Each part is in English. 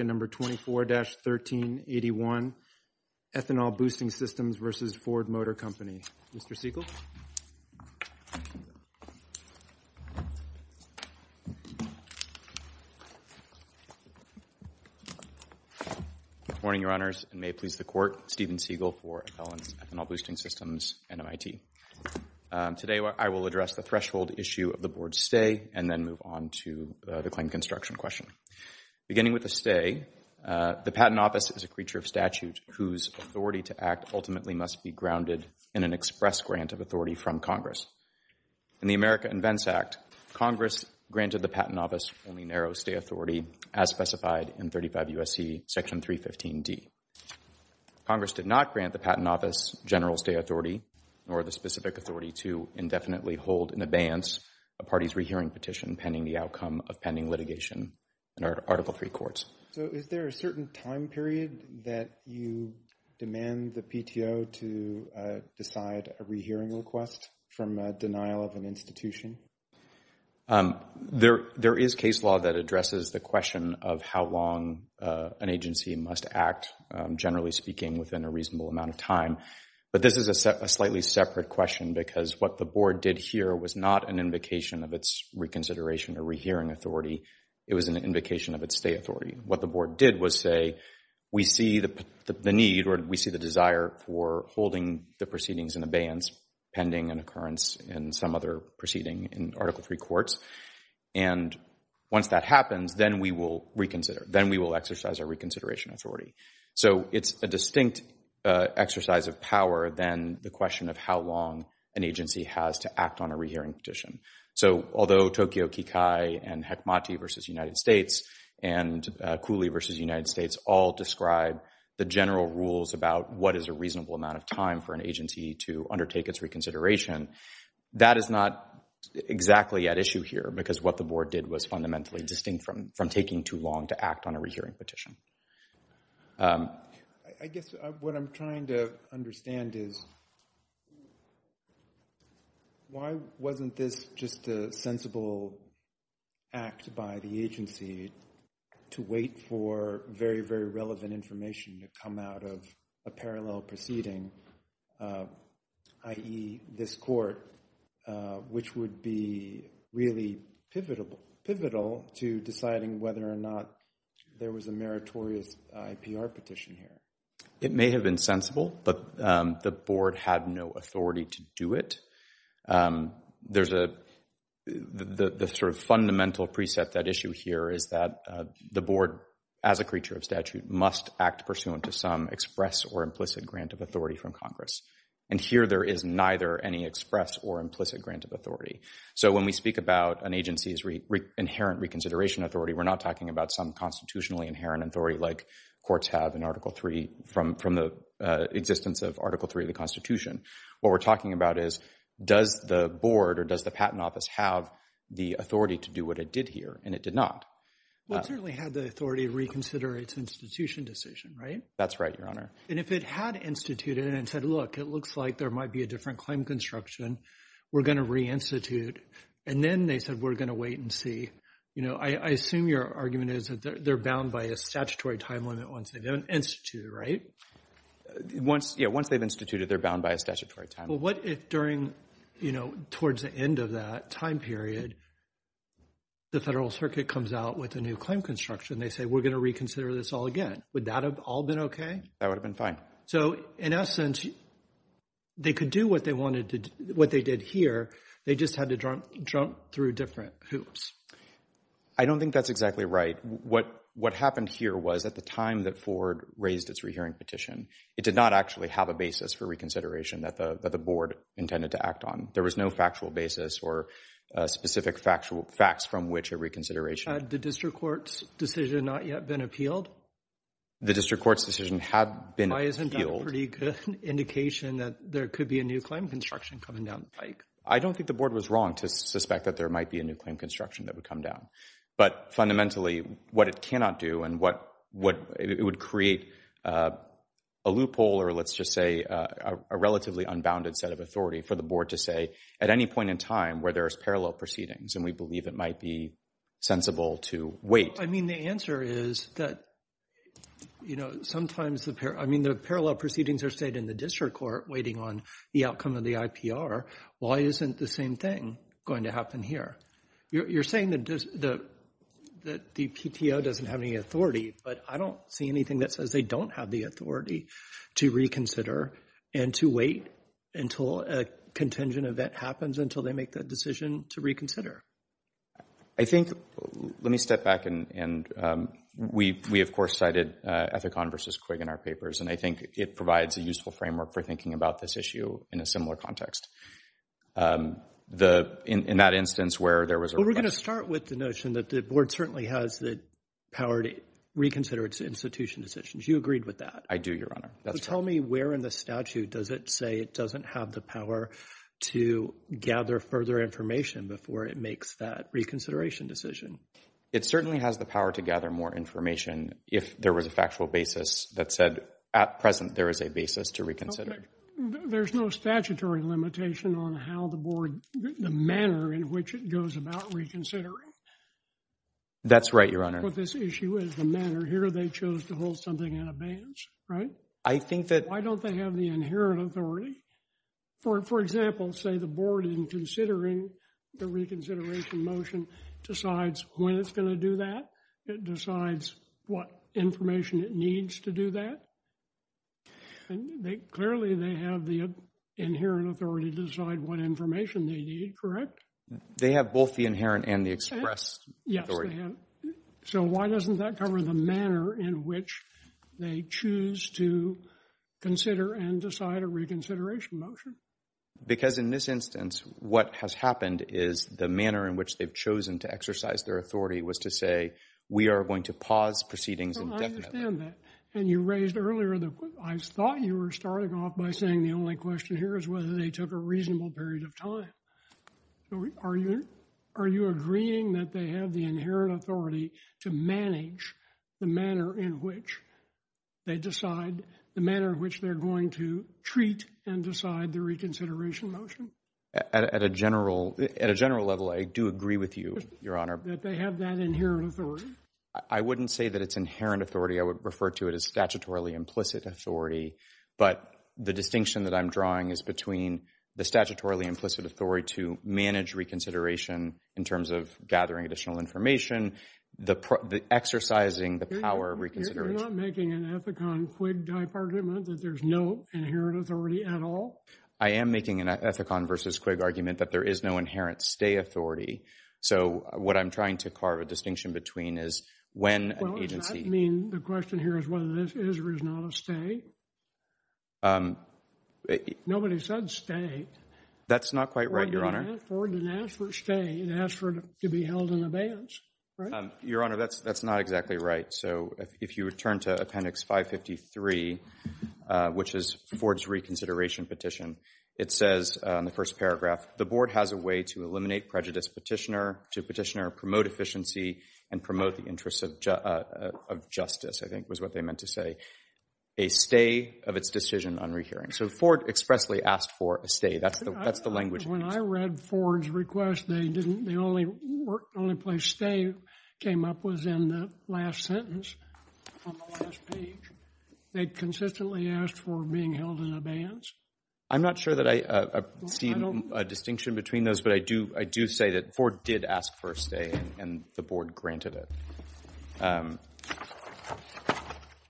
at number 24-1381, Ethanol Boosting Systems v. Ford Motor Company. Mr. Siegel. Good morning, Your Honors, and may it please the Court, Steven Siegel for Ethanol Boosting Systems, NMIT. Today I will address the threshold issue of the Board's stay and then move on to the claim construction question. Beginning with the stay, the Patent Office is a creature of statute whose authority to act ultimately must be grounded in an express grant of authority from Congress. In the America Invents Act, Congress granted the Patent Office only narrow stay authority as specified in 35 U.S.C. Section 315D. Congress did not grant the Patent Office general stay authority nor the specific authority to indefinitely hold in abeyance a party's rehearing petition pending the outcome of pending litigation. In our Article III Courts. So is there a certain time period that you demand the PTO to decide a rehearing request from a denial of an institution? There is case law that addresses the question of how long an agency must act, generally speaking, within a reasonable amount of time. But this is a slightly separate question because what the Board did here was not an invocation of its reconsideration or rehearing authority. It was an invocation of its stay authority. What the Board did was say, we see the need or we see the desire for holding the proceedings in abeyance pending an occurrence in some other proceeding in Article III Courts. And once that happens, then we will reconsider. Then we will exercise our reconsideration authority. So it's a distinct exercise of power than the question of how long an agency has to act on a rehearing petition. So although Tokyo Kikai and Hecmati v. United States and Cooley v. United States all describe the general rules about what is a reasonable amount of time for an agency to undertake its reconsideration, that is not exactly at issue here because what the Board did was fundamentally distinct from taking too long to act on a rehearing petition. I guess what I'm trying to understand is why wasn't this just a sensible act by the agency to wait for very, very relevant information to come out of a parallel proceeding, i.e., this court, which would be really pivotal to deciding whether or not there was a meritorious IPR petition here? It may have been sensible, but the Board had no authority to do it. There's a sort of fundamental preset that issue here is that the Board, as a creature of statute, must act pursuant to some express or implicit grant of authority from Congress. And here there is neither any express or implicit grant of authority. So when we speak about an agency's inherent reconsideration authority, we're not talking about some constitutionally inherent authority like courts have in Article III from the existence of Article III of the Constitution. What we're talking about is does the Board or does the Patent Office have the authority to do what it did here, and it did not. Well, it certainly had the authority to reconsider its institution decision, right? That's right, Your Honor. And if it had instituted it and said, look, it looks like there might be a different claim construction. We're going to reinstitute. And then they said, we're going to wait and see. You know, I assume your argument is that they're bound by a statutory time limit once they've instituted, right? Yeah, once they've instituted, they're bound by a statutory time limit. Well, what if during, you know, towards the end of that time period, the Federal Circuit comes out with a new claim construction. They say, we're going to reconsider this all again. Would that have all been okay? That would have been fine. So in essence, they could do what they wanted to, what they did here. They just had to jump through different hoops. I don't think that's exactly right. What happened here was at the time that Ford raised its rehearing petition, it did not actually have a basis for reconsideration that the Board intended to act on. There was no factual basis or specific facts from which a reconsideration. Had the district court's decision not yet been appealed? The district court's decision had been appealed. Why isn't that a pretty good indication that there could be a new claim construction coming down the pike? I don't think the Board was wrong to suspect that there might be a new claim construction that would come down. But fundamentally, what it cannot do and what it would create a loophole or let's just say a relatively unbounded set of authority for the Board to say at any point in time where there's parallel proceedings and we believe it might be sensible to wait. I mean, the answer is that, you know, sometimes the parallel proceedings are stayed in the district court waiting on the outcome of the IPR. Why isn't the same thing going to happen here? You're saying that the PTO doesn't have any authority, but I don't see anything that says they don't have the authority to reconsider and to wait until a contingent event happens until they make that decision to reconsider. I think, let me step back and we of course cited Ethicon versus Quigg in our papers and I think it provides a useful framework for thinking about this issue in a similar context. In that instance where there was a request. Well, we're going to start with the notion that the Board certainly has the power to reconsider its institution decisions. You agreed with that. I do, Your Honor. Tell me where in the statute does it say it doesn't have the power to gather further information before it makes that reconsideration decision. It certainly has the power to gather more information if there was a factual basis that said at present there is a basis to reconsider. There's no statutory limitation on how the Board, the manner in which it goes about reconsidering. That's right, Your Honor. That's what this issue is, the manner. Here they chose to hold something in abeyance, right? I think that... Why don't they have the inherent authority? For example, say the Board in considering the reconsideration motion decides when it's going to do that. It decides what information it needs to do that. Clearly they have the inherent authority to decide what information they need, correct? They have both the inherent and the expressed authority. So why doesn't that cover the manner in which they choose to consider and decide a reconsideration motion? Because in this instance, what has happened is the manner in which they've chosen to exercise their authority was to say we are going to pause proceedings indefinitely. I understand that. And you raised earlier, I thought you were starting off by saying the only question here is whether they took a reasonable period of time. Are you agreeing that they have the inherent authority to manage the manner in which they decide, the manner in which they're going to treat and decide the reconsideration motion? At a general level, I do agree with you, Your Honor. That they have that inherent authority? I wouldn't say that it's inherent authority. I would refer to it as statutorily implicit authority. But the distinction that I'm drawing is between the statutorily implicit authority to manage reconsideration in terms of gathering additional information, the exercising the power of reconsideration. You're not making an Ethicon-Quigg type argument that there's no inherent authority at all? I am making an Ethicon versus Quigg argument that there is no inherent stay authority. So what I'm trying to carve a distinction between is when an agency… Nobody said stay. That's not quite right, Your Honor. Ford didn't ask for stay. He asked for it to be held in abeyance, right? Your Honor, that's not exactly right. So if you return to Appendix 553, which is Ford's reconsideration petition, it says in the first paragraph, the board has a way to eliminate prejudice to petitioner, promote efficiency, and promote the interests of justice, I think was what they meant to say. A stay of its decision on rehearing. So Ford expressly asked for a stay. That's the language. When I read Ford's request, the only place stay came up was in the last sentence on the last page. They consistently asked for being held in abeyance. I'm not sure that I see a distinction between those, but I do say that Ford did ask for a stay and the board granted it.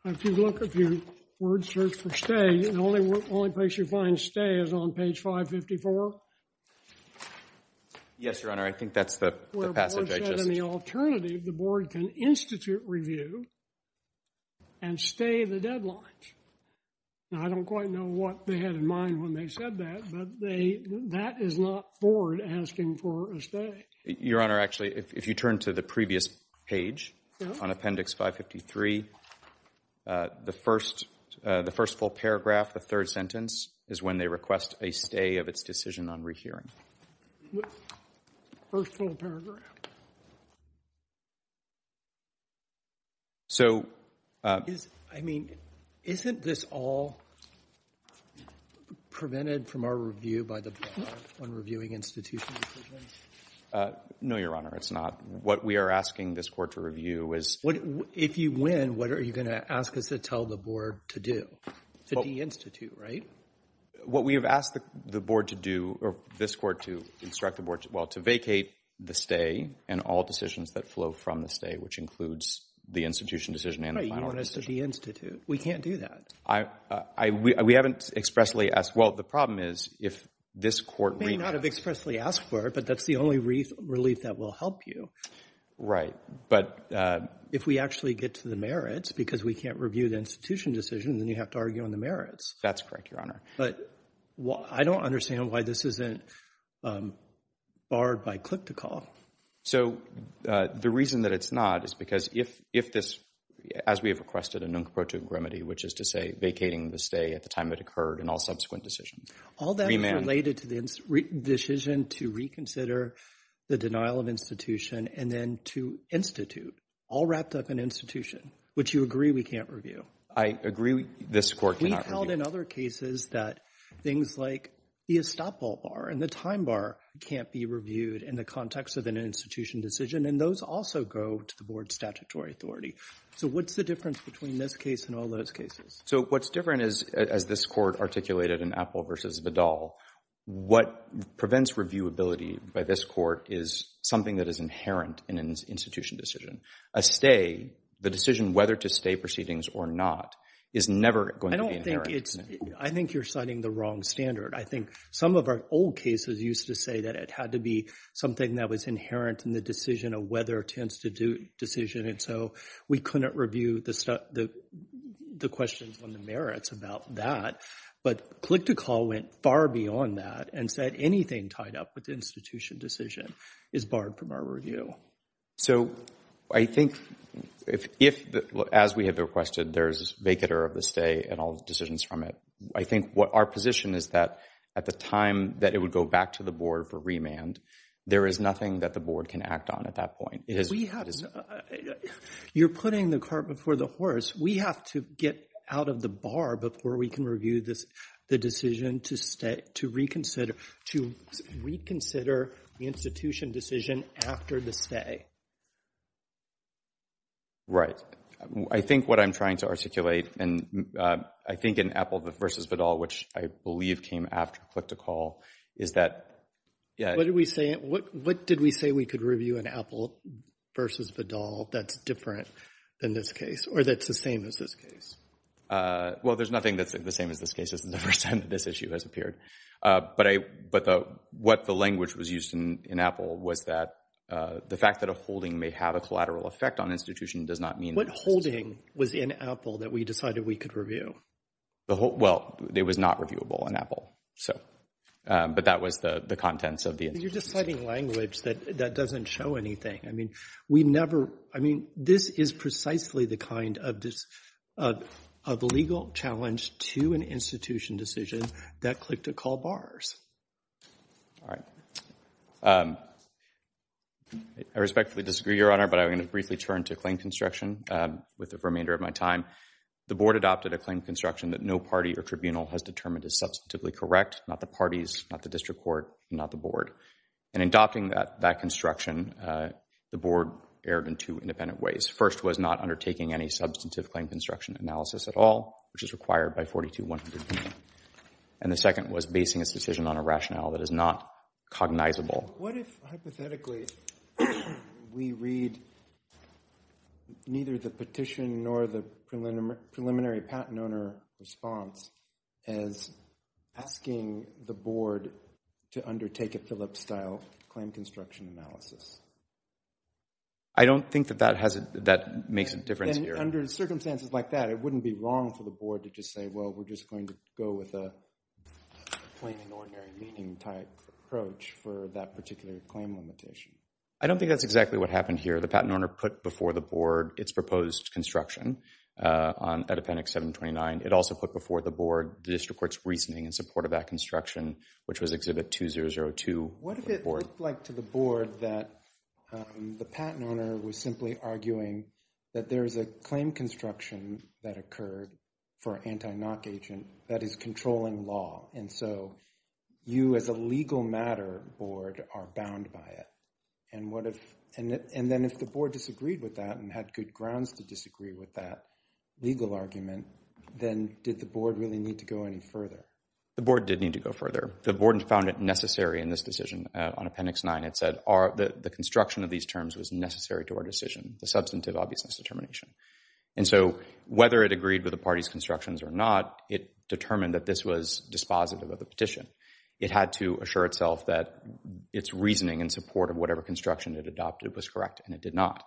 If you look, if you word search for stay, the only place you find stay is on page 554. Yes, Your Honor. I think that's the passage I just… Where Ford said in the alternative, the board can institute review and stay the deadlines. Now, I don't quite know what they had in mind when they said that, but that is not Ford asking for a stay. Your Honor, actually, if you turn to the previous page on Appendix 553, the first full paragraph, the third sentence, is when they request a stay of its decision on rehearing. First full paragraph. So… I mean, isn't this all prevented from our review by the board when reviewing institutional decisions? No, Your Honor, it's not. What we are asking this court to review is… If you win, what are you going to ask us to tell the board to do? To de-institute, right? What we have asked the board to do, or this court to instruct the board, well, to vacate the stay and all decisions that flow from the stay, which includes the institution decision and the final decision. Right, you want us to de-institute. We can't do that. We haven't expressly asked. Well, the problem is if this court… You may not have expressly asked for it, but that's the only relief that will help you. Right, but… If we actually get to the merits, because we can't review the institution decision, then you have to argue on the merits. That's correct, Your Honor. But I don't understand why this isn't barred by click-to-call. So, the reason that it's not is because if this, as we have requested a nunc pro tuum remedy, which is to say vacating the stay at the time it occurred and all subsequent decisions… All that is related to the decision to reconsider the denial of institution and then to institute, all wrapped up in institution, which you agree we can't review. I agree this court cannot review. It's been held in other cases that things like the estoppel bar and the time bar can't be reviewed in the context of an institution decision, and those also go to the board's statutory authority. So, what's the difference between this case and all those cases? So, what's different is, as this court articulated in Appel v. Vidal, what prevents reviewability by this court is something that is inherent in an institution decision. A stay, the decision whether to stay proceedings or not, is never going to be inherent. I think you're setting the wrong standard. I think some of our old cases used to say that it had to be something that was inherent in the decision of whether to institute decision, and so we couldn't review the questions on the merits about that. But click-to-call went far beyond that and said anything tied up with institution decision is barred from our review. So, I think if, as we have requested, there's a vacater of the stay and all decisions from it. I think our position is that at the time that it would go back to the board for remand, there is nothing that the board can act on at that point. You're putting the cart before the horse. We have to get out of the bar before we can review the decision to reconsider the institution decision after the stay. Right. I think what I'm trying to articulate, and I think in Appel v. Vidal, which I believe came after click-to-call, is that… What did we say we could review in Appel v. Vidal that's different than this case, or that's the same as this case? Well, there's nothing that's the same as this case. This is the first time that this issue has appeared. But what the language was used in Appel was that the fact that a holding may have a collateral effect on institution does not mean… What holding was in Appel that we decided we could review? Well, it was not reviewable in Appel, but that was the contents of the institution decision. You're just citing language that doesn't show anything. I mean, this is precisely the kind of legal challenge to an institution decision that click-to-call bars. All right. I respectfully disagree, Your Honor, but I'm going to briefly turn to claim construction with the remainder of my time. The Board adopted a claim construction that no party or tribunal has determined is substantively correct. Not the parties, not the district court, not the Board. And in adopting that construction, the Board erred in two independent ways. First was not undertaking any substantive claim construction analysis at all, which is required by 42-100. And the second was basing its decision on a rationale that is not cognizable. What if, hypothetically, we read neither the petition nor the preliminary patent owner response as asking the Board to undertake a Phillips-style claim construction analysis? I don't think that that makes a difference here. Then under circumstances like that, it wouldn't be wrong for the Board to just say, let's go with a plain and ordinary meeting-type approach for that particular claim limitation. I don't think that's exactly what happened here. The patent owner put before the Board its proposed construction at Appendix 729. It also put before the Board the district court's reasoning in support of that construction, which was Exhibit 2002. What if it looked like to the Board that the patent owner was simply arguing that there is a claim construction that occurred for an anti-knock agent that is controlling law. And so you as a legal matter Board are bound by it. And then if the Board disagreed with that and had good grounds to disagree with that legal argument, then did the Board really need to go any further? The Board did need to go further. The Board found it necessary in this decision. On Appendix 9, it said the construction of these terms was necessary to our decision. The substantive obviousness determination. And so whether it agreed with the party's constructions or not, it determined that this was dispositive of the petition. It had to assure itself that its reasoning in support of whatever construction it adopted was correct, and it did not.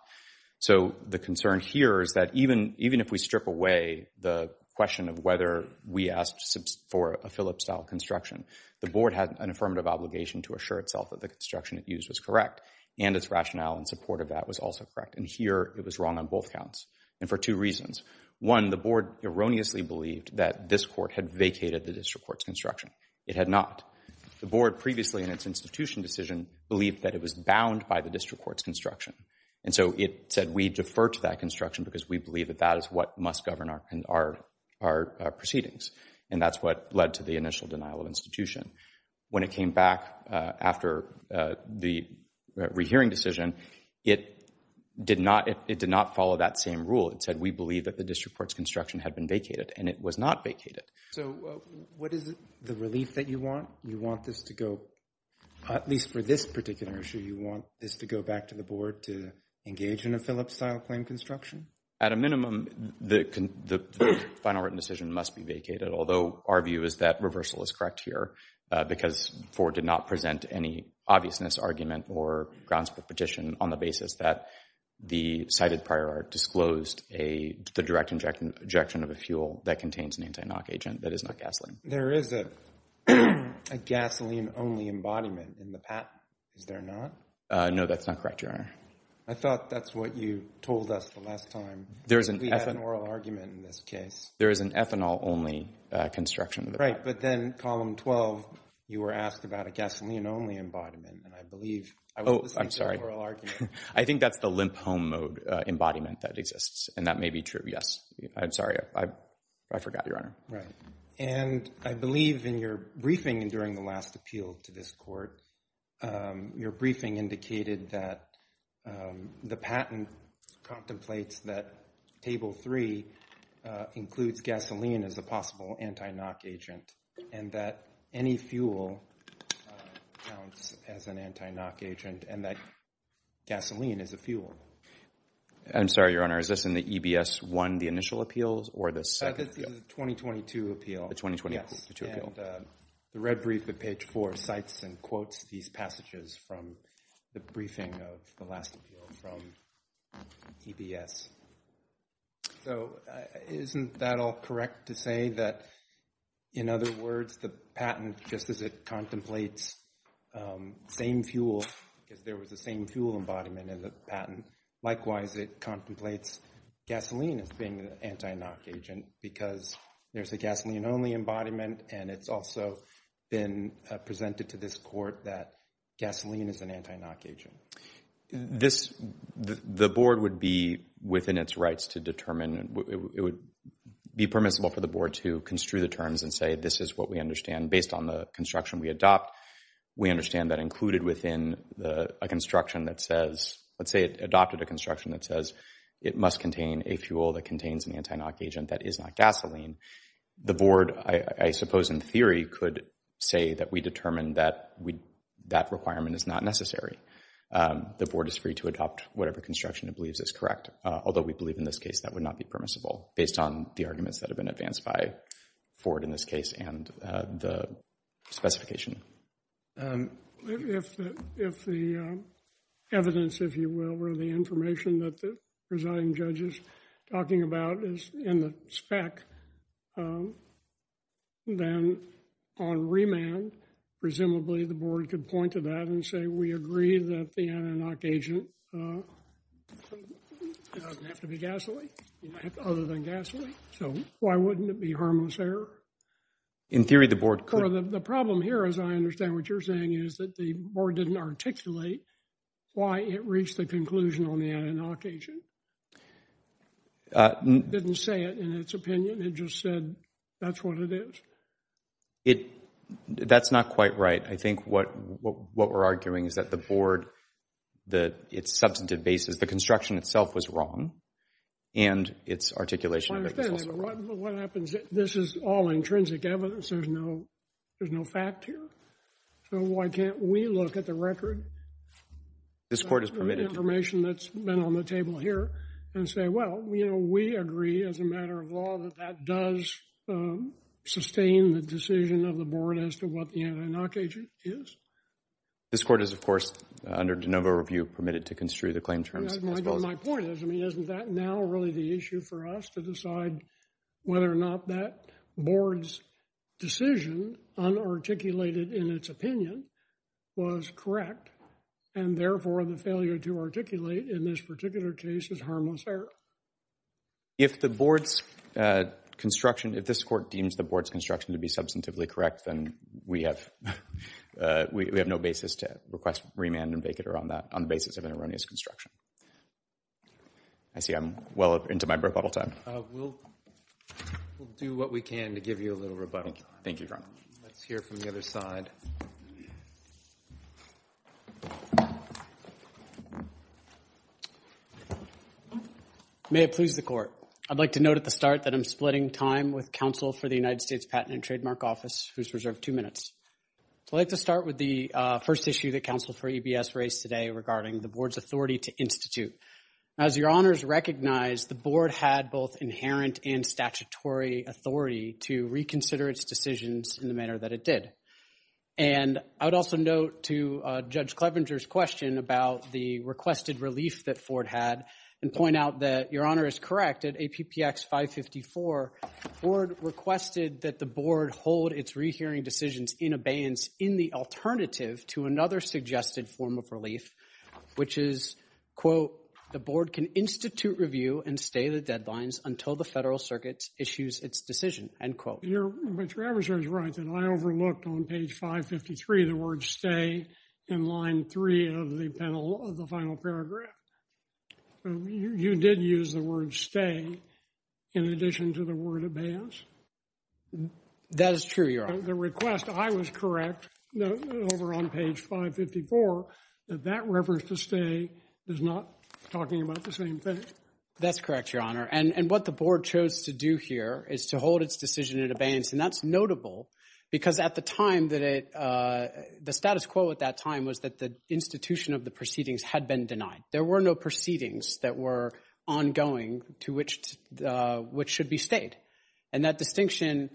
So the concern here is that even if we strip away the question of whether we asked for a Phillips-style construction, the Board had an affirmative obligation to assure itself that the construction it used was correct, and its rationale in support of that was also correct. And here it was wrong on both counts, and for two reasons. One, the Board erroneously believed that this court had vacated the district court's construction. It had not. The Board previously in its institution decision believed that it was bound by the district court's construction. And so it said we defer to that construction because we believe that that is what must govern our proceedings. And that's what led to the initial denial of institution. When it came back after the rehearing decision, it did not follow that same rule. It said we believe that the district court's construction had been vacated, and it was not vacated. So what is the relief that you want? You want this to go, at least for this particular issue, you want this to go back to the Board to engage in a Phillips-style claim construction? At a minimum, the final written decision must be vacated, although our view is that reversal is correct here. Because Ford did not present any obviousness argument or grounds for petition on the basis that the cited prior art disclosed the direct injection of a fuel that contains an anti-NOC agent that is not gasoline. There is a gasoline-only embodiment in the patent. Is there not? No, that's not correct, Your Honor. I thought that's what you told us the last time. We had an oral argument in this case. There is an ethanol-only construction. Right, but then Column 12, you were asked about a gasoline-only embodiment, and I believe I was listening to an oral argument. I think that's the limp-home mode embodiment that exists, and that may be true. Yes. I'm sorry. I forgot, Your Honor. Right. And I believe in your briefing during the last appeal to this Court, your briefing indicated that the patent contemplates that Table 3 includes gasoline as a possible anti-NOC agent, and that any fuel counts as an anti-NOC agent, and that gasoline is a fuel. I'm sorry, Your Honor. Is this in the EBS-1, the initial appeal, or the second appeal? This is the 2022 appeal. The 2022 appeal. Yes, and the red brief at page 4 cites and quotes these passages from the briefing of the last appeal from EBS. So isn't that all correct to say that, in other words, the patent, just as it contemplates same fuel, because there was a same fuel embodiment in the patent, likewise it contemplates gasoline as being an anti-NOC agent, because there's a gasoline-only embodiment, and it's also been presented to this Court that gasoline is an anti-NOC agent. This, the Board would be within its rights to determine, it would be permissible for the Board to construe the terms and say, this is what we understand based on the construction we adopt. We understand that included within a construction that says, let's say it adopted a construction that says it must contain a fuel that contains an anti-NOC agent that is not gasoline. The Board, I suppose in theory, could say that we determined that that requirement is not necessary. The Board is free to adopt whatever construction it believes is correct, although we believe in this case that would not be permissible, based on the arguments that have been advanced by Ford in this case and the specification. If the evidence, if you will, or the information that the presiding judge is talking about is in the spec, then on remand, presumably the Board could point to that and say, we agree that the anti-NOC agent doesn't have to be gasoline, other than gasoline, so why wouldn't it be harmless there? In theory, the Board could. The problem here, as I understand what you're saying, is that the Board didn't articulate why it reached the conclusion on the anti-NOC agent. It didn't say it in its opinion, it just said that's what it is. That's not quite right. I think what we're arguing is that the Board, that its substantive basis, the construction itself was wrong. And its articulation of it was also wrong. But what happens, this is all intrinsic evidence. There's no fact here. So why can't we look at the record? This Court has permitted. The information that's been on the table here and say, well, you know, we agree as a matter of law that that does sustain the decision of the Board as to what the anti-NOC agent is. This Court is, of course, under de novo review permitted to construe the claim terms. My point is, I mean, isn't that now really the issue for us to decide whether or not that Board's decision, unarticulated in its opinion, was correct? And therefore, the failure to articulate in this particular case is harmless error. If the Board's construction, if this Court deems the Board's construction to be substantively correct, then we have no basis to request remand and vacater on that, on the basis of an erroneous construction. I see I'm well into my rebuttal time. We'll do what we can to give you a little rebuttal time. Thank you, Your Honor. Let's hear from the other side. May it please the Court. I'd like to note at the start that I'm splitting time with counsel for the United States Patent and Trademark Office, who's reserved two minutes. I'd like to start with the first issue that counsel for EBS raised today regarding the Board's authority to institute. As Your Honors recognize, the Board had both inherent and statutory authority to reconsider its decisions in the manner that it did. And I would also note to Judge Clevenger's question about the requested relief that Ford had and point out that Your Honor is correct. At APPX 554, Ford requested that the Board hold its rehearing decisions in abeyance in the alternative to another suggested form of relief, which is, quote, the Board can institute review and stay the deadlines until the Federal Circuit issues its decision, end quote. But Your Honor is right that I overlooked on page 553 the word stay in line three of the final paragraph. You did use the word stay in addition to the word abeyance. That is true, Your Honor. The request, I was correct over on page 554 that that reference to stay is not talking about the same thing. That's correct, Your Honor. And what the Board chose to do here is to hold its decision in abeyance. And that's notable because at the time that it, the status quo at that time was that the institution of the proceedings had been denied. There were no proceedings that were ongoing to which, which should be stayed. And that distinction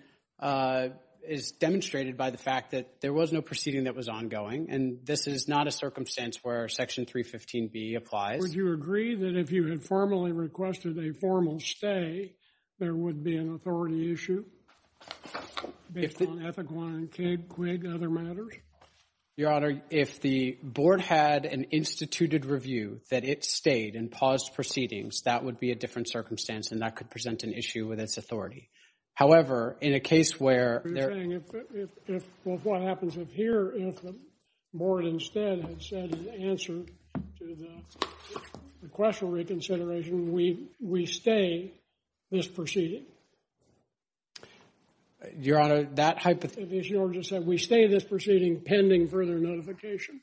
is demonstrated by the fact that there was no proceeding that was ongoing. And this is not a circumstance where Section 315B applies. Would you agree that if you had formally requested a formal stay, there would be an authority issue based on Ethiclon and CAIG, QUIG, other matters? Your Honor, if the Board had an instituted review that it stayed and paused proceedings, that would be a different circumstance. And that could present an issue with its authority. However, in a case where You're saying if, if, if, well, what happens if here, if the Board instead had said in answer to the request for reconsideration, we, we stay this proceeding? Your Honor, that hypothesis If the issuer just said we stay this proceeding pending further notification?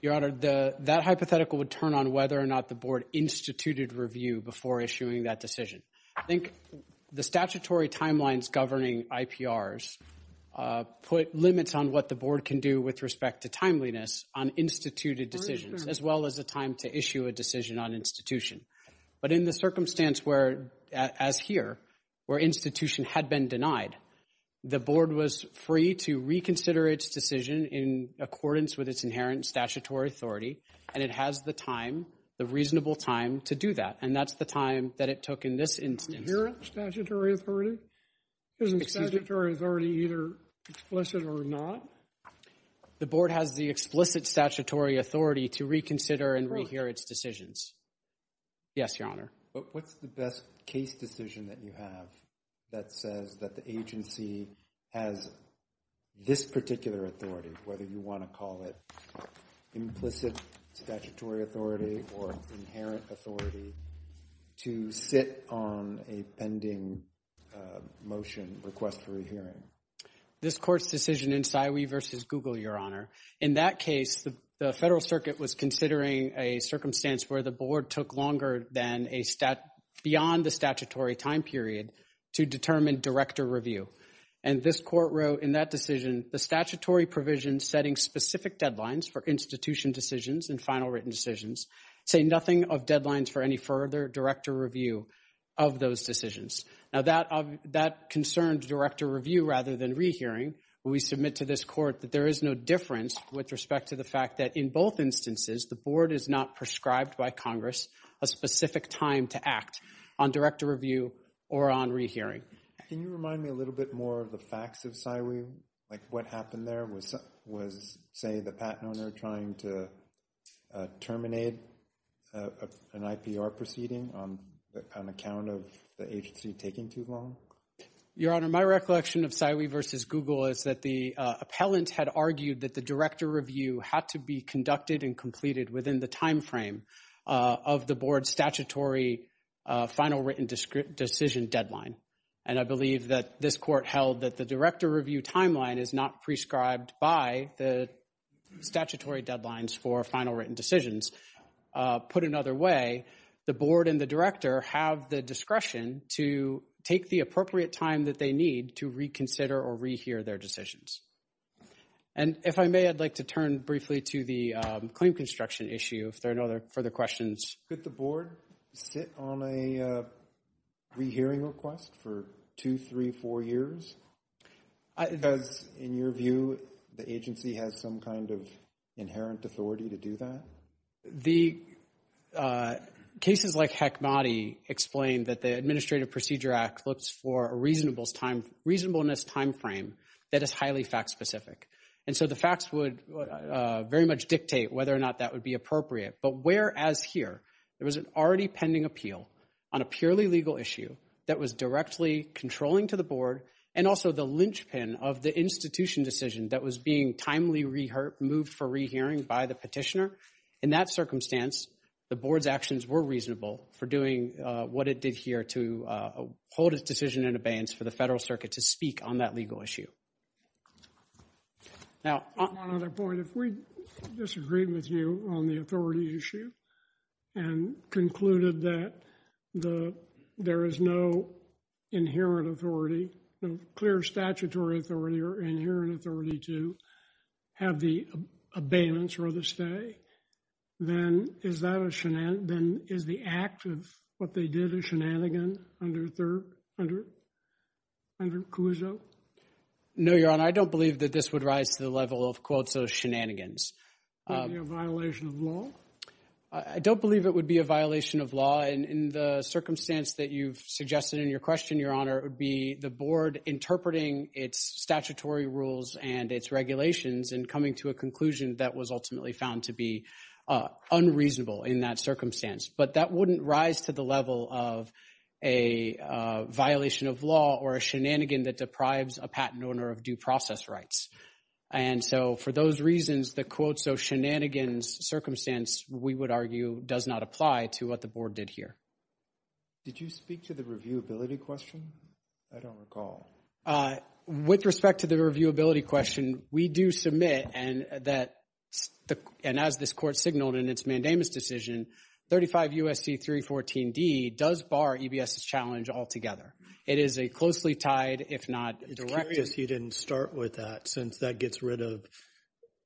Your Honor, the, that hypothetical would turn on whether or not the Board instituted review before issuing that decision. I think the statutory timelines governing IPRs put limits on what the Board can do with respect to timeliness on instituted decisions, as well as a time to issue a decision on institution. But in the circumstance where, as here, where institution had been denied, the Board was free to reconsider its decision in accordance with its inherent statutory authority, and it has the time, the reasonable time to do that. And that's the time that it took in this instance. Inherent statutory authority? Isn't statutory authority either explicit or not? The Board has the explicit statutory authority to reconsider and rehear its decisions. Yes, Your Honor. But what's the best case decision that you have that says that the agency has this particular authority, whether you want to call it implicit statutory authority or inherent authority, to sit on a pending motion, request for a hearing? This Court's decision in Saiwi v. Google, Your Honor. In that case, the Federal Circuit was considering a circumstance where the Board took longer than a, beyond the statutory time period to determine director review. And this Court wrote in that decision, the statutory provision setting specific deadlines for institution decisions and final written decisions say nothing of deadlines for any further director review of those decisions. Now, that concerned director review rather than rehearing. We submit to this Court that there is no difference with respect to the fact that in both instances, the Board is not prescribed by Congress a specific time to act on director review or on rehearing. Can you remind me a little bit more of the facts of Saiwi? Like, what happened there was, say, the patent owner trying to terminate an IPR proceeding on account of the agency taking too long? Your Honor, my recollection of Saiwi v. Google is that the appellant had argued that the director review had to be conducted and completed within the timeframe of the Board's statutory final written decision deadline. And I believe that this Court held that the director review timeline is not prescribed by the statutory deadlines for final written decisions. Put another way, the Board and the director have the discretion to take the appropriate time that they need to reconsider or rehear their decisions. And if I may, I'd like to turn briefly to the claim construction issue if there are no further questions. Could the Board sit on a rehearing request for two, three, four years? Because in your view, the agency has some kind of inherent authority to do that? The cases like Hekmati explain that the Administrative Procedure Act looks for a reasonableness timeframe that is highly fact-specific. And so the facts would very much dictate whether or not that would be appropriate. But whereas here, there was an already pending appeal on a purely legal issue that was directly controlling to the Board, and also the linchpin of the institution decision that was being timely moved for rehearing by the petitioner, in that circumstance, the Board's actions were reasonable for doing what it did here to hold its decision in abeyance for the Federal Circuit to speak on that legal issue. Now, on another point, if we disagreed with you on the authority issue and concluded that there is no inherent authority, no clear statutory authority or inherent authority to have the abeyance or the stay, then is the act of what they did a shenanigan under CUSO? No, Your Honor. I don't believe that this would rise to the level of, quote, shenanigans. Would it be a violation of law? I don't believe it would be a violation of law. And in the circumstance that you've suggested in your question, Your Honor, it would be the Board interpreting its statutory rules and its regulations and coming to a conclusion that was ultimately found to be unreasonable in that circumstance. But that wouldn't rise to the level of a violation of law or a shenanigan that deprives a patent owner of due process rights. And so for those reasons, the quote, so shenanigans circumstance, we would argue, does not apply to what the Board did here. Did you speak to the reviewability question? I don't recall. With respect to the reviewability question, we do submit, and as this Court signaled in its mandamus decision, 35 U.S.C. 314d does bar EBS's challenge altogether. It is a closely tied, if not directed. I'm curious you didn't start with that since that gets rid of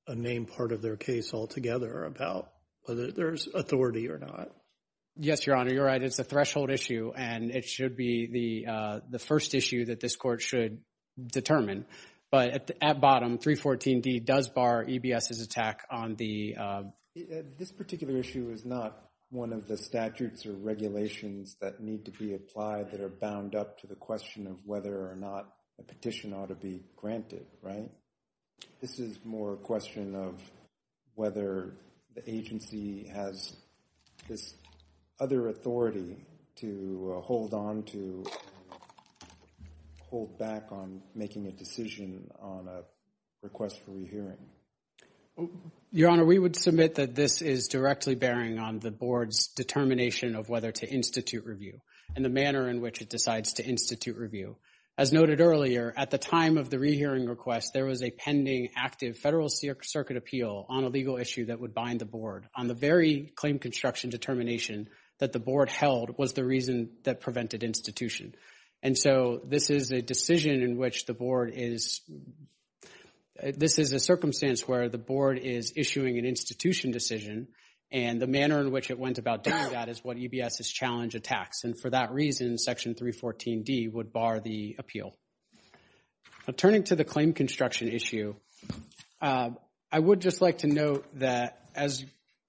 a main part of their case altogether about whether there's authority or not. Yes, Your Honor, you're right. It's a threshold issue, and it should be the first issue that this Court should determine. But at bottom, 314d does bar EBS's attack on the- This particular issue is not one of the statutes or regulations that need to be applied that are bound up to the question of whether or not a petition ought to be granted, right? This is more a question of whether the agency has this other authority to hold on to, hold back on making a decision on a request for rehearing. Your Honor, we would submit that this is directly bearing on the Board's determination of whether to institute review and the manner in which it decides to institute review. As noted earlier, at the time of the rehearing request, there was a pending active Federal Circuit appeal on a legal issue that would bind the Board. On the very claim construction determination that the Board held was the reason that prevented institution. And so this is a decision in which the Board is- This is a circumstance where the Board is issuing an institution decision, and the manner in which it went about doing that is what EBS's challenge attacks. And for that reason, Section 314d would bar the appeal. Turning to the claim construction issue, I would just like to note that, as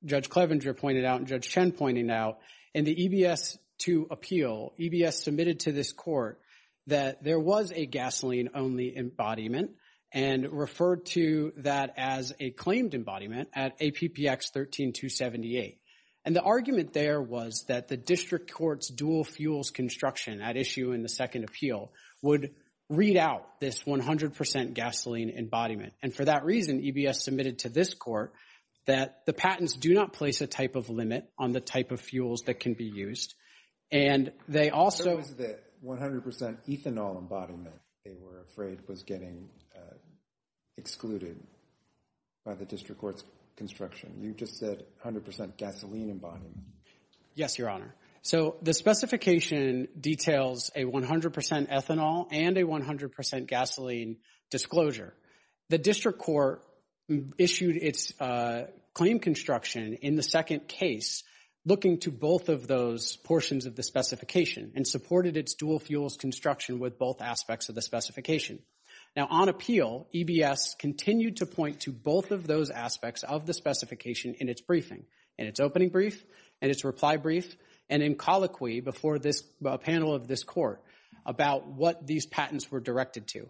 Judge Clevenger pointed out and Judge Chen pointed out, in the EBS 2 appeal, EBS submitted to this court that there was a gasoline-only embodiment and referred to that as a claimed embodiment at APPX 13278. And the argument there was that the district court's dual fuels construction at issue in the second appeal would read out this 100% gasoline embodiment. And for that reason, EBS submitted to this court that the patents do not place a type of limit on the type of fuels that can be used. And they also- There was the 100% ethanol embodiment they were afraid was getting excluded by the district court's construction. You just said 100% gasoline embodiment. Yes, Your Honor. So the specification details a 100% ethanol and a 100% gasoline disclosure. The district court issued its claim construction in the second case looking to both of those portions of the specification and supported its dual fuels construction with both aspects of the specification. Now, on appeal, EBS continued to point to both of those aspects of the specification in its briefing, in its opening brief, in its reply brief, and in colloquy before this panel of this court about what these patents were directed to.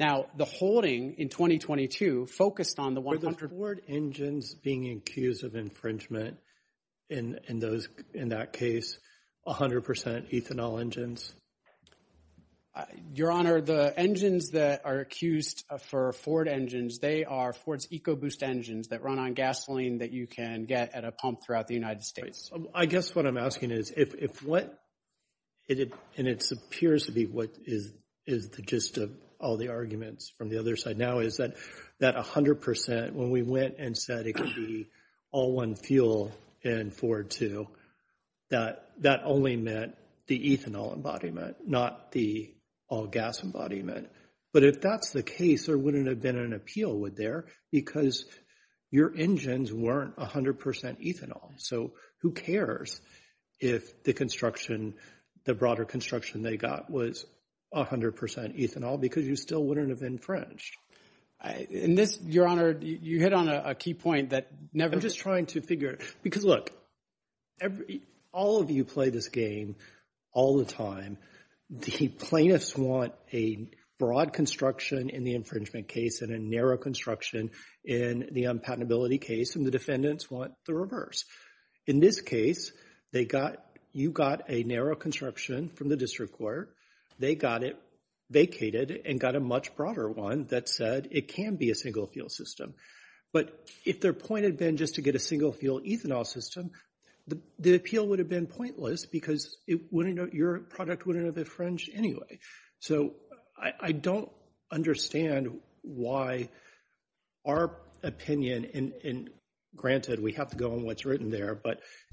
Now, the holding in 2022 focused on the 100- Were the Ford engines being accused of infringement in those- in that case, 100% ethanol engines? Your Honor, the engines that are accused for Ford engines, they are Ford's EcoBoost engines that run on gasoline that you can get at a pump throughout the United States. I guess what I'm asking is if what- and it appears to be what is the gist of all the arguments from the other side. Now, is that 100%, when we went and said it could be all one fuel in Ford, too, that that only meant the ethanol embodiment, not the all-gas embodiment. But if that's the case, there wouldn't have been an appeal there because your engines weren't 100% ethanol. So who cares if the construction, the broader construction they got was 100% ethanol because you still wouldn't have infringed. And this, Your Honor, you hit on a key point that never- Because, look, all of you play this game all the time. The plaintiffs want a broad construction in the infringement case and a narrow construction in the unpatentability case, and the defendants want the reverse. In this case, they got- you got a narrow construction from the district court. They got it vacated and got a much broader one that said it can be a single-fuel system. But if their point had been just to get a single-fuel ethanol system, the appeal would have been pointless because it wouldn't- your product wouldn't have infringed anyway. So I don't understand why our opinion- and granted, we have to go on what's written there,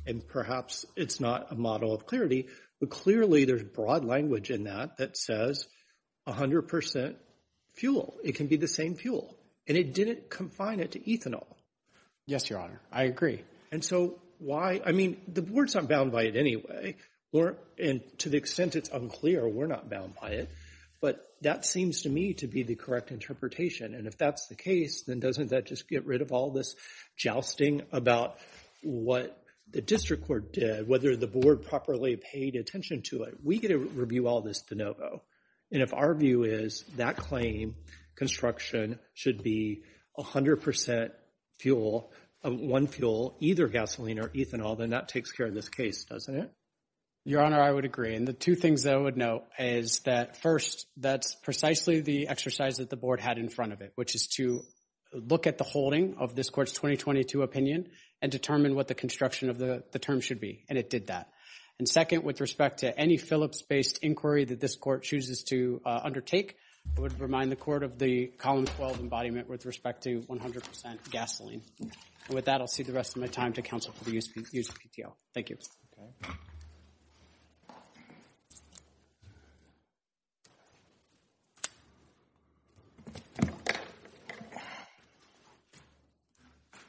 and perhaps it's not a model of clarity. But clearly, there's broad language in that that says 100% fuel. It can be the same fuel, and it didn't confine it to ethanol. Yes, Your Honor, I agree. And so why- I mean, the board's not bound by it anyway, and to the extent it's unclear, we're not bound by it. But that seems to me to be the correct interpretation. And if that's the case, then doesn't that just get rid of all this jousting about what the district court did, whether the board properly paid attention to it? We get to review all this de novo. And if our view is that claim, construction should be 100% fuel, one fuel, either gasoline or ethanol, then that takes care of this case, doesn't it? Your Honor, I would agree. And the two things I would note is that, first, that's precisely the exercise that the board had in front of it, which is to look at the holding of this court's 2022 opinion and determine what the construction of the term should be. And it did that. And second, with respect to any Phillips-based inquiry that this court chooses to undertake, I would remind the court of the Column 12 embodiment with respect to 100% gasoline. And with that, I'll cede the rest of my time to counsel for the use of PTL. Thank you.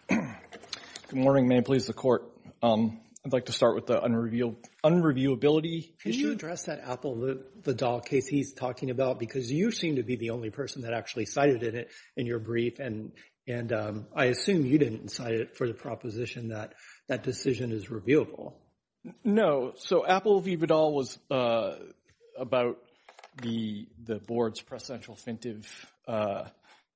Good morning. May it please the Court. I'd like to start with the unreviewability. Can you address that Apple v. Vidal case he's talking about? Because you seem to be the only person that actually cited it in your brief. And I assume you didn't cite it for the proposition that that decision is reviewable. No. So Apple v. Vidal was about the board's precedential fintive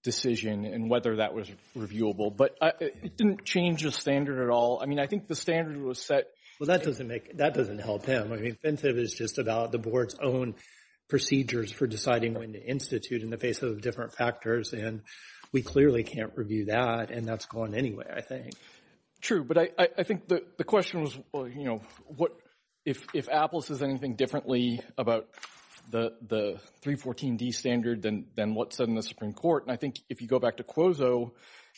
decision and whether that was reviewable. But it didn't change the standard at all. I mean, I think the standard was set. Well, that doesn't help him. I mean, fintive is just about the board's own procedures for deciding when to institute in the face of different factors. And we clearly can't review that. And that's gone anyway, I think. True. But I think the question was, you know, if Apple says anything differently about the 314D standard than what's said in the Supreme Court. And I think if you go back to Quozo,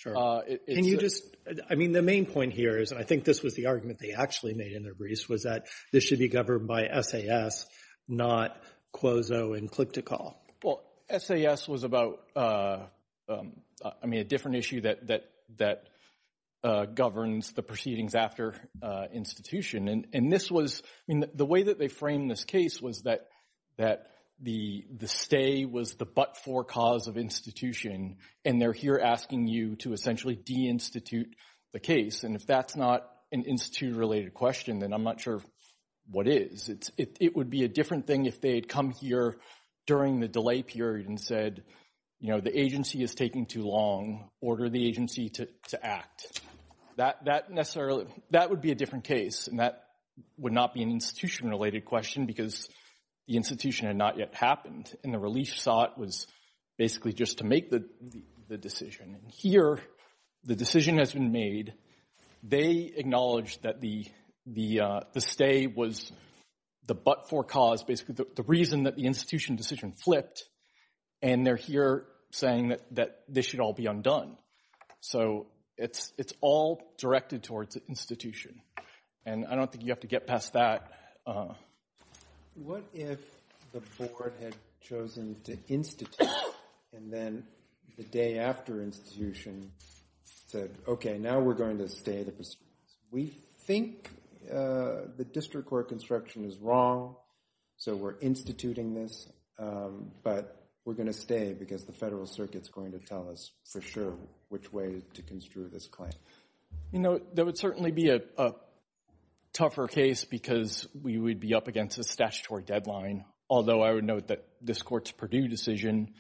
it's – I mean, the main point here is, and I think this was the argument they actually made in their briefs, was that this should be governed by SAS, not Quozo and Click2Call. Well, SAS was about, I mean, a different issue that governs the proceedings after institution. And this was – I mean, the way that they framed this case was that the stay was the but-for cause of institution. And they're here asking you to essentially de-institute the case. And if that's not an institute-related question, then I'm not sure what is. It would be a different thing if they had come here during the delay period and said, you know, the agency is taking too long. Order the agency to act. That necessarily – that would be a different case. And that would not be an institution-related question because the institution had not yet happened. And the relief sought was basically just to make the decision. And here, the decision has been made. They acknowledge that the stay was the but-for cause, basically the reason that the institution decision flipped. And they're here saying that this should all be undone. So it's all directed towards the institution. And I don't think you have to get past that. What if the board had chosen to institute and then the day after institution said, okay, now we're going to stay. We think the district court construction is wrong, so we're instituting this. But we're going to stay because the federal circuit is going to tell us for sure which way to construe this claim. You know, that would certainly be a tougher case because we would be up against a statutory deadline, although I would note that this court's Purdue decision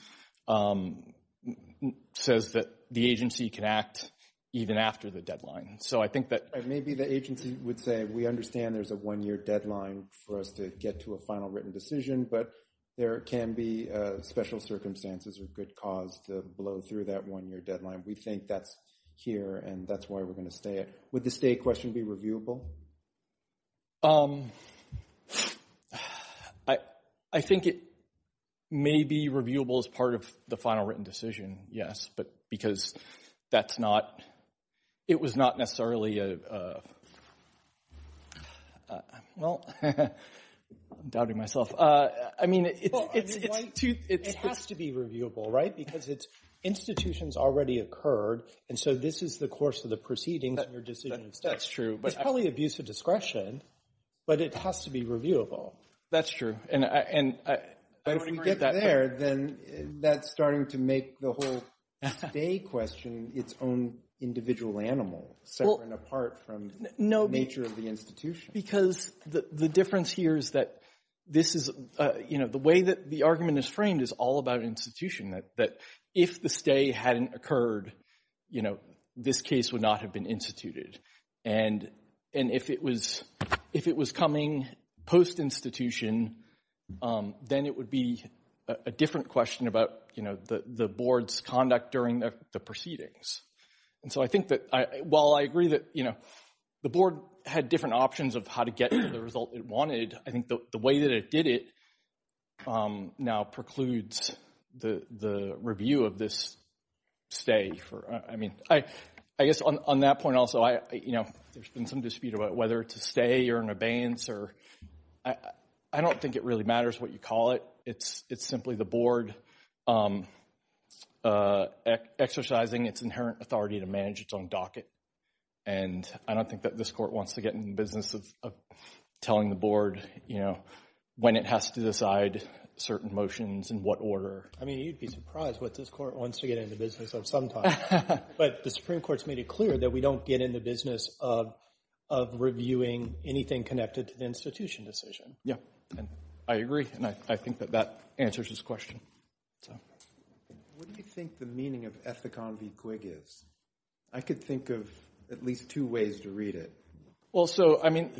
says that the agency can act even after the deadline. So I think that – Maybe the agency would say, we understand there's a one-year deadline for us to get to a final written decision, but there can be special circumstances or good cause to blow through that one-year deadline. We think that's here, and that's why we're going to stay it. Would the stay question be reviewable? I think it may be reviewable as part of the final written decision, yes, but because that's not – it was not necessarily a – well, I'm doubting myself. It has to be reviewable, right? Because institutions already occurred, and so this is the course of the proceedings and your decision. That's true. It's probably abuse of discretion, but it has to be reviewable. That's true. But if we get there, then that's starting to make the whole stay question its own individual animal, separate and apart from the nature of the institution. Because the difference here is that this is – the way that the argument is framed is all about institution, that if the stay hadn't occurred, this case would not have been instituted. And if it was coming post-institution, then it would be a different question about the board's conduct during the proceedings. And so I think that while I agree that the board had different options of how to get the result it wanted, I think the way that it did it now precludes the review of this stay. I mean, I guess on that point also, there's been some dispute about whether to stay or an abeyance. I don't think it really matters what you call it. It's simply the board exercising its inherent authority to manage its own docket. And I don't think that this court wants to get in the business of telling the board, you know, when it has to decide certain motions in what order. I mean, you'd be surprised what this court wants to get in the business of sometimes. But the Supreme Court's made it clear that we don't get in the business of reviewing anything connected to the institution decision. Yeah, I agree. And I think that that answers his question. What do you think the meaning of Ethicon v. Quig is? I could think of at least two ways to read it. Well, so, I mean,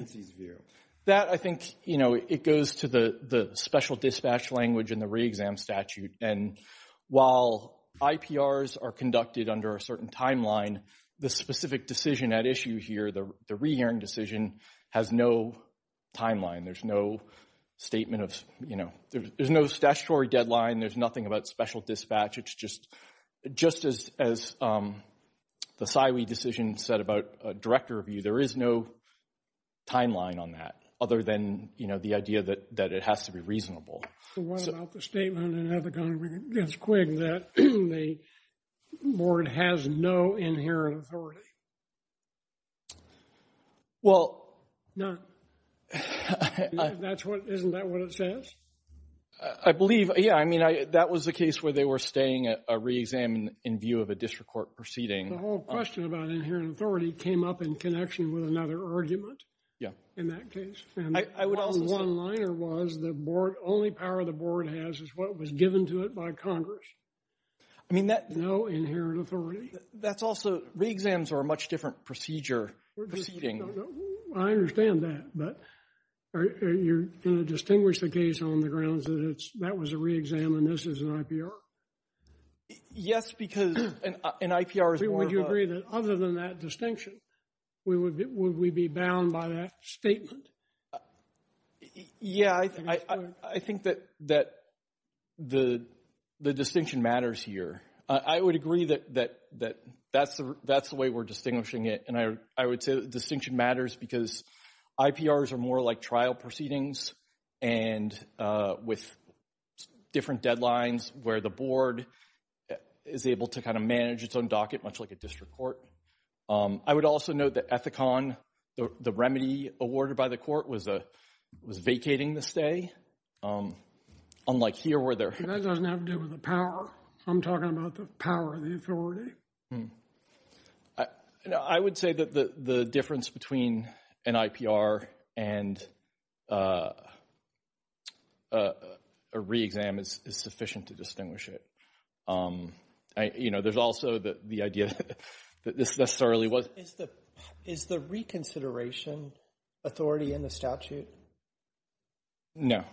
that I think, you know, it goes to the special dispatch language in the re-exam statute. And while IPRs are conducted under a certain timeline, the specific decision at issue here, the re-hearing decision, has no timeline. There's no statement of, you know, there's no statutory deadline. There's nothing about special dispatch. It's just as the SIWE decision said about director review, there is no timeline on that other than, you know, the idea that it has to be reasonable. So what about the statement in Ethicon v. Quig that the board has no inherent authority? Well. None. Isn't that what it says? I believe, yeah. I mean, that was the case where they were staying at a re-exam in view of a district court proceeding. The whole question about inherent authority came up in connection with another argument in that case. I would also say. And the one-liner was the board, only power the board has is what was given to it by Congress. I mean, that. No inherent authority. That's also, re-exams are a much different procedure, proceeding. I understand that. But you're going to distinguish the case on the grounds that that was a re-exam and this is an IPR? Yes, because an IPR is more of a. I would say that other than that distinction, would we be bound by that statement? Yeah, I think that the distinction matters here. I would agree that that's the way we're distinguishing it. And I would say the distinction matters because IPRs are more like trial proceedings and with different deadlines where the board is able to kind of manage its own docket, much like a district court. I would also note that Ethicon, the remedy awarded by the court, was vacating the stay. Unlike here where there. That doesn't have to do with the power. I'm talking about the power of the authority. I would say that the difference between an IPR and a re-exam is sufficient to distinguish it. You know, there's also the idea that this necessarily was. Is the reconsideration authority in the statute? No.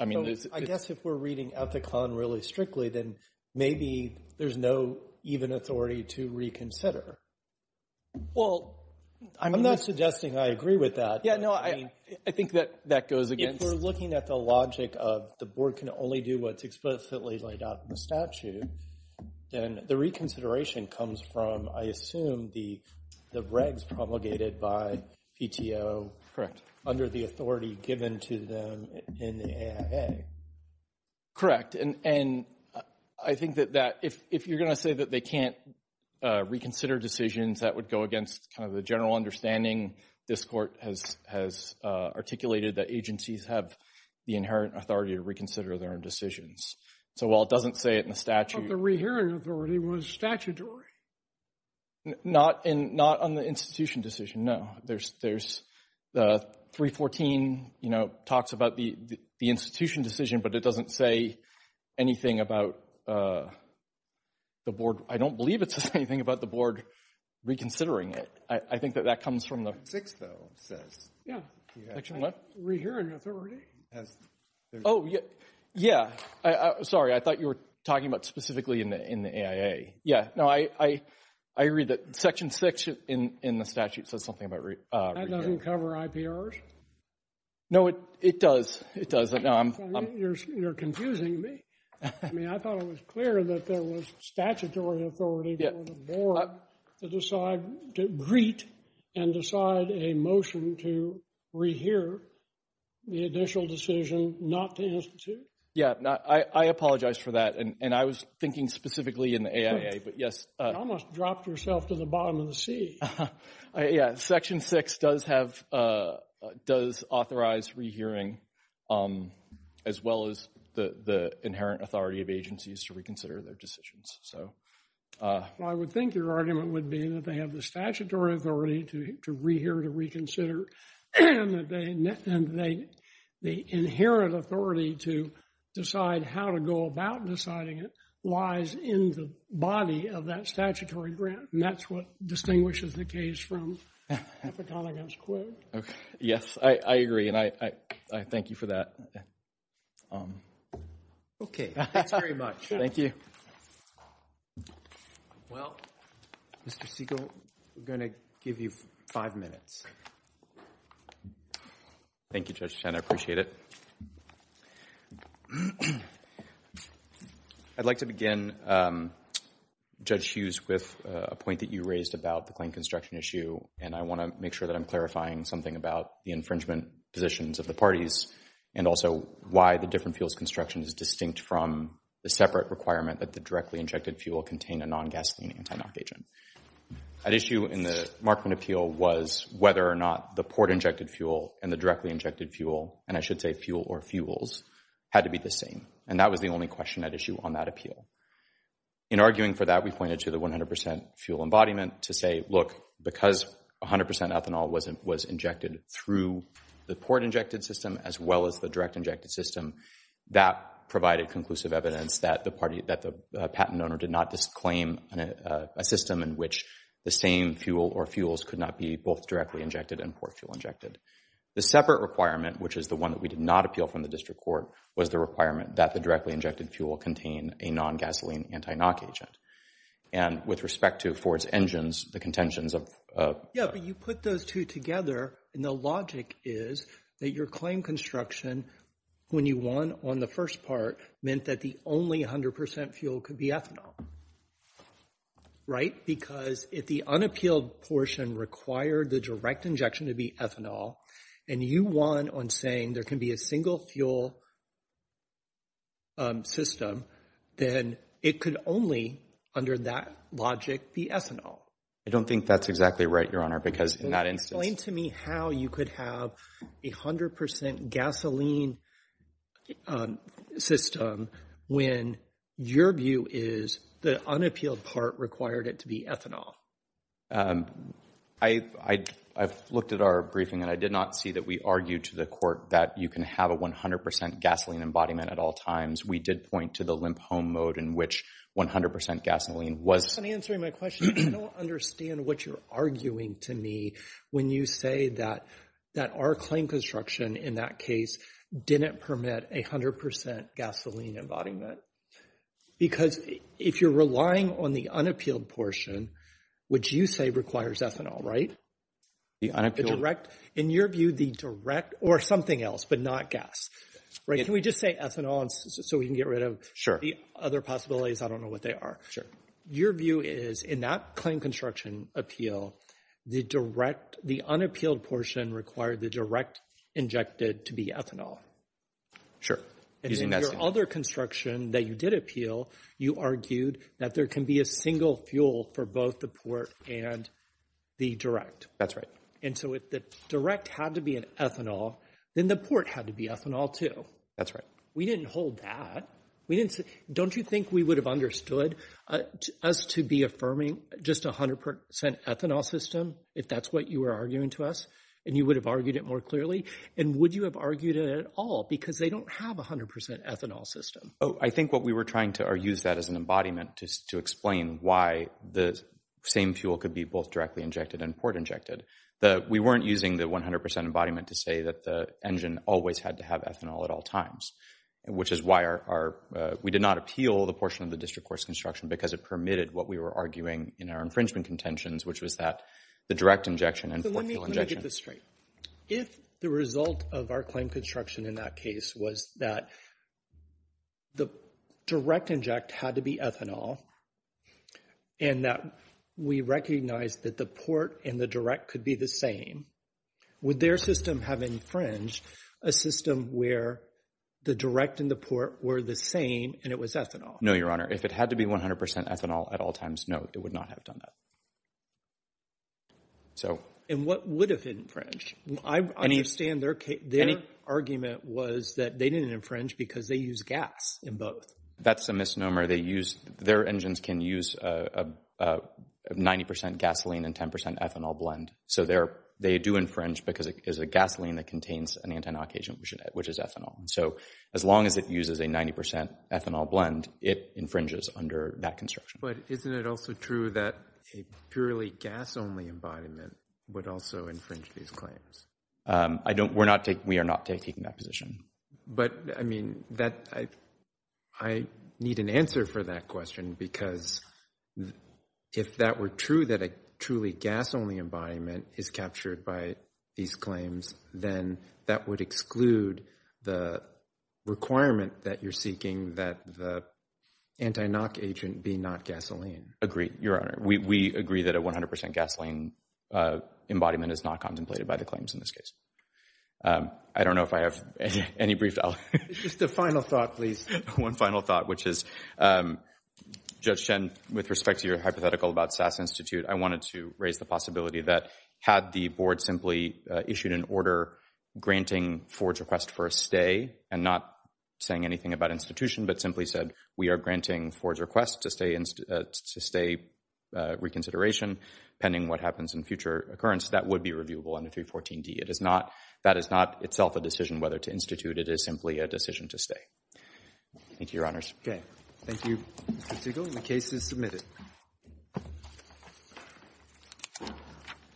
I guess if we're reading Ethicon really strictly, then maybe there's no even authority to reconsider. Well, I'm not suggesting I agree with that. Yeah, no, I think that that goes against. If we're looking at the logic of the board can only do what's explicitly laid out in the statute, then the reconsideration comes from, I assume, the regs promulgated by PTO. Correct. Under the authority given to them in the AIA. Correct. And I think that if you're going to say that they can't reconsider decisions, that would go against kind of the general understanding this court has articulated that agencies have the inherent authority to reconsider their own decisions. So while it doesn't say it in the statute. But the rehearing authority was statutory. Not on the institution decision, no. There's 314, you know, talks about the institution decision, but it doesn't say anything about the board. I don't believe it says anything about the board reconsidering it. I think that that comes from the. Section 6, though, says. Yeah. Section what? Rehearing authority. Oh, yeah. Sorry, I thought you were talking about specifically in the AIA. Yeah. No, I agree that Section 6 in the statute says something about. That doesn't cover IPRs. No, it does. It does. You're confusing me. I mean, I thought it was clear that there was statutory authority for the board to decide, to greet and decide a motion to rehear the initial decision not to institute. Yeah. I apologize for that. And I was thinking specifically in the AIA, but yes. You almost dropped yourself to the bottom of the sea. Yeah. Section 6 does have, does authorize rehearing, as well as the inherent authority of agencies to reconsider their decisions. Well, I would think your argument would be that they have the statutory authority to rehear, to reconsider. And the inherent authority to decide how to go about deciding it lies in the body of that statutory grant. And that's what distinguishes the case from Epcot against Quaid. Okay. Yes, I agree. And I thank you for that. Okay. Thanks very much. Thank you. Well, Mr. Segal, we're going to give you five minutes. Thank you, Judge Chen. I appreciate it. I'd like to begin, Judge Hughes, with a point that you raised about the claim construction issue. And I want to make sure that I'm clarifying something about the infringement positions of the parties and also why the different fuels construction is distinct from the separate requirement that the directly injected fuel contain a non-gasoline anti-NOx agent. An issue in the Markman appeal was whether or not the port-injected fuel and the directly injected fuel, and I should say fuel or fuels, had to be the same. And that was the only question at issue on that appeal. In arguing for that, we pointed to the 100% fuel embodiment to say, look, because 100% ethanol was injected through the port-injected system as well as the direct-injected system, that provided conclusive evidence that the patent owner did not disclaim a system in which the same fuel or fuels could not be both directly injected and port-fuel injected. The separate requirement, which is the one that we did not appeal from the district court, was the requirement that the directly injected fuel contain a non-gasoline anti-NOx agent. And with respect to Ford's engines, the contentions of… Yeah, but you put those two together, and the logic is that your claim on construction, when you won on the first part, meant that the only 100% fuel could be ethanol, right? Because if the unappealed portion required the direct injection to be ethanol, and you won on saying there can be a single fuel system, then it could only, under that logic, be ethanol. I don't think that's exactly right, Your Honor, because in that instance… Tell me how you could have a 100% gasoline system when your view is the unappealed part required it to be ethanol. I've looked at our briefing, and I did not see that we argued to the court that you can have a 100% gasoline embodiment at all times. We did point to the limp home mode in which 100% gasoline was… That's not answering my question. I don't understand what you're arguing to me when you say that our claim construction in that case didn't permit a 100% gasoline embodiment. Because if you're relying on the unappealed portion, which you say requires ethanol, right? The unappealed? In your view, the direct or something else, but not gas. Can we just say ethanol so we can get rid of the other possibilities? I don't know what they are. Sure. Your view is in that claim construction appeal, the unappealed portion required the direct injected to be ethanol. Sure. And in your other construction that you did appeal, you argued that there can be a single fuel for both the port and the direct. That's right. And so if the direct had to be an ethanol, then the port had to be ethanol too. That's right. We didn't hold that. Don't you think we would have understood us to be affirming just a 100% ethanol system if that's what you were arguing to us and you would have argued it more clearly? And would you have argued it at all because they don't have a 100% ethanol system? I think what we were trying to use that as an embodiment to explain why the same fuel could be both directly injected and port injected. We weren't using the 100% embodiment to say that the engine always had to have ethanol at all times, which is why we did not appeal the portion of the district court's construction because it permitted what we were arguing in our infringement contentions, which was that the direct injection and the fuel injection. Let me get this straight. If the result of our claim construction in that case was that the direct inject had to be ethanol and that we recognized that the port and the direct could be the same, would their system have infringed a system where the direct and the port were the same and it was ethanol? No, Your Honor. If it had to be 100% ethanol at all times, no, it would not have done that. And what would have infringed? I understand their argument was that they didn't infringe because they use gas in both. That's a misnomer. Their engines can use 90% gasoline and 10% ethanol blend. So they do infringe because it is a gasoline that contains an anti-knock agent, which is ethanol. So as long as it uses a 90% ethanol blend, it infringes under that construction. But isn't it also true that a purely gas-only embodiment would also infringe these claims? We are not taking that position. But, I mean, I need an answer for that question because if that were true, that a truly gas-only embodiment is captured by these claims, then that would exclude the requirement that you're seeking that the anti-knock agent be not gasoline. Agreed, Your Honor. We agree that a 100% gasoline embodiment is not contemplated by the claims in this case. I don't know if I have any brief. Just a final thought, please. One final thought, which is, Judge Chen, with respect to your hypothetical about SAS Institute, I wanted to raise the possibility that had the board simply issued an order granting Ford's request for a stay and not saying anything about institution but simply said, we are granting Ford's request to stay reconsideration pending what happens in future occurrence, that would be reviewable under 314D. That is not itself a decision whether to institute. It is simply a decision to stay. Thank you, Your Honors. Okay. Thank you, Mr. Siegel. The case is submitted.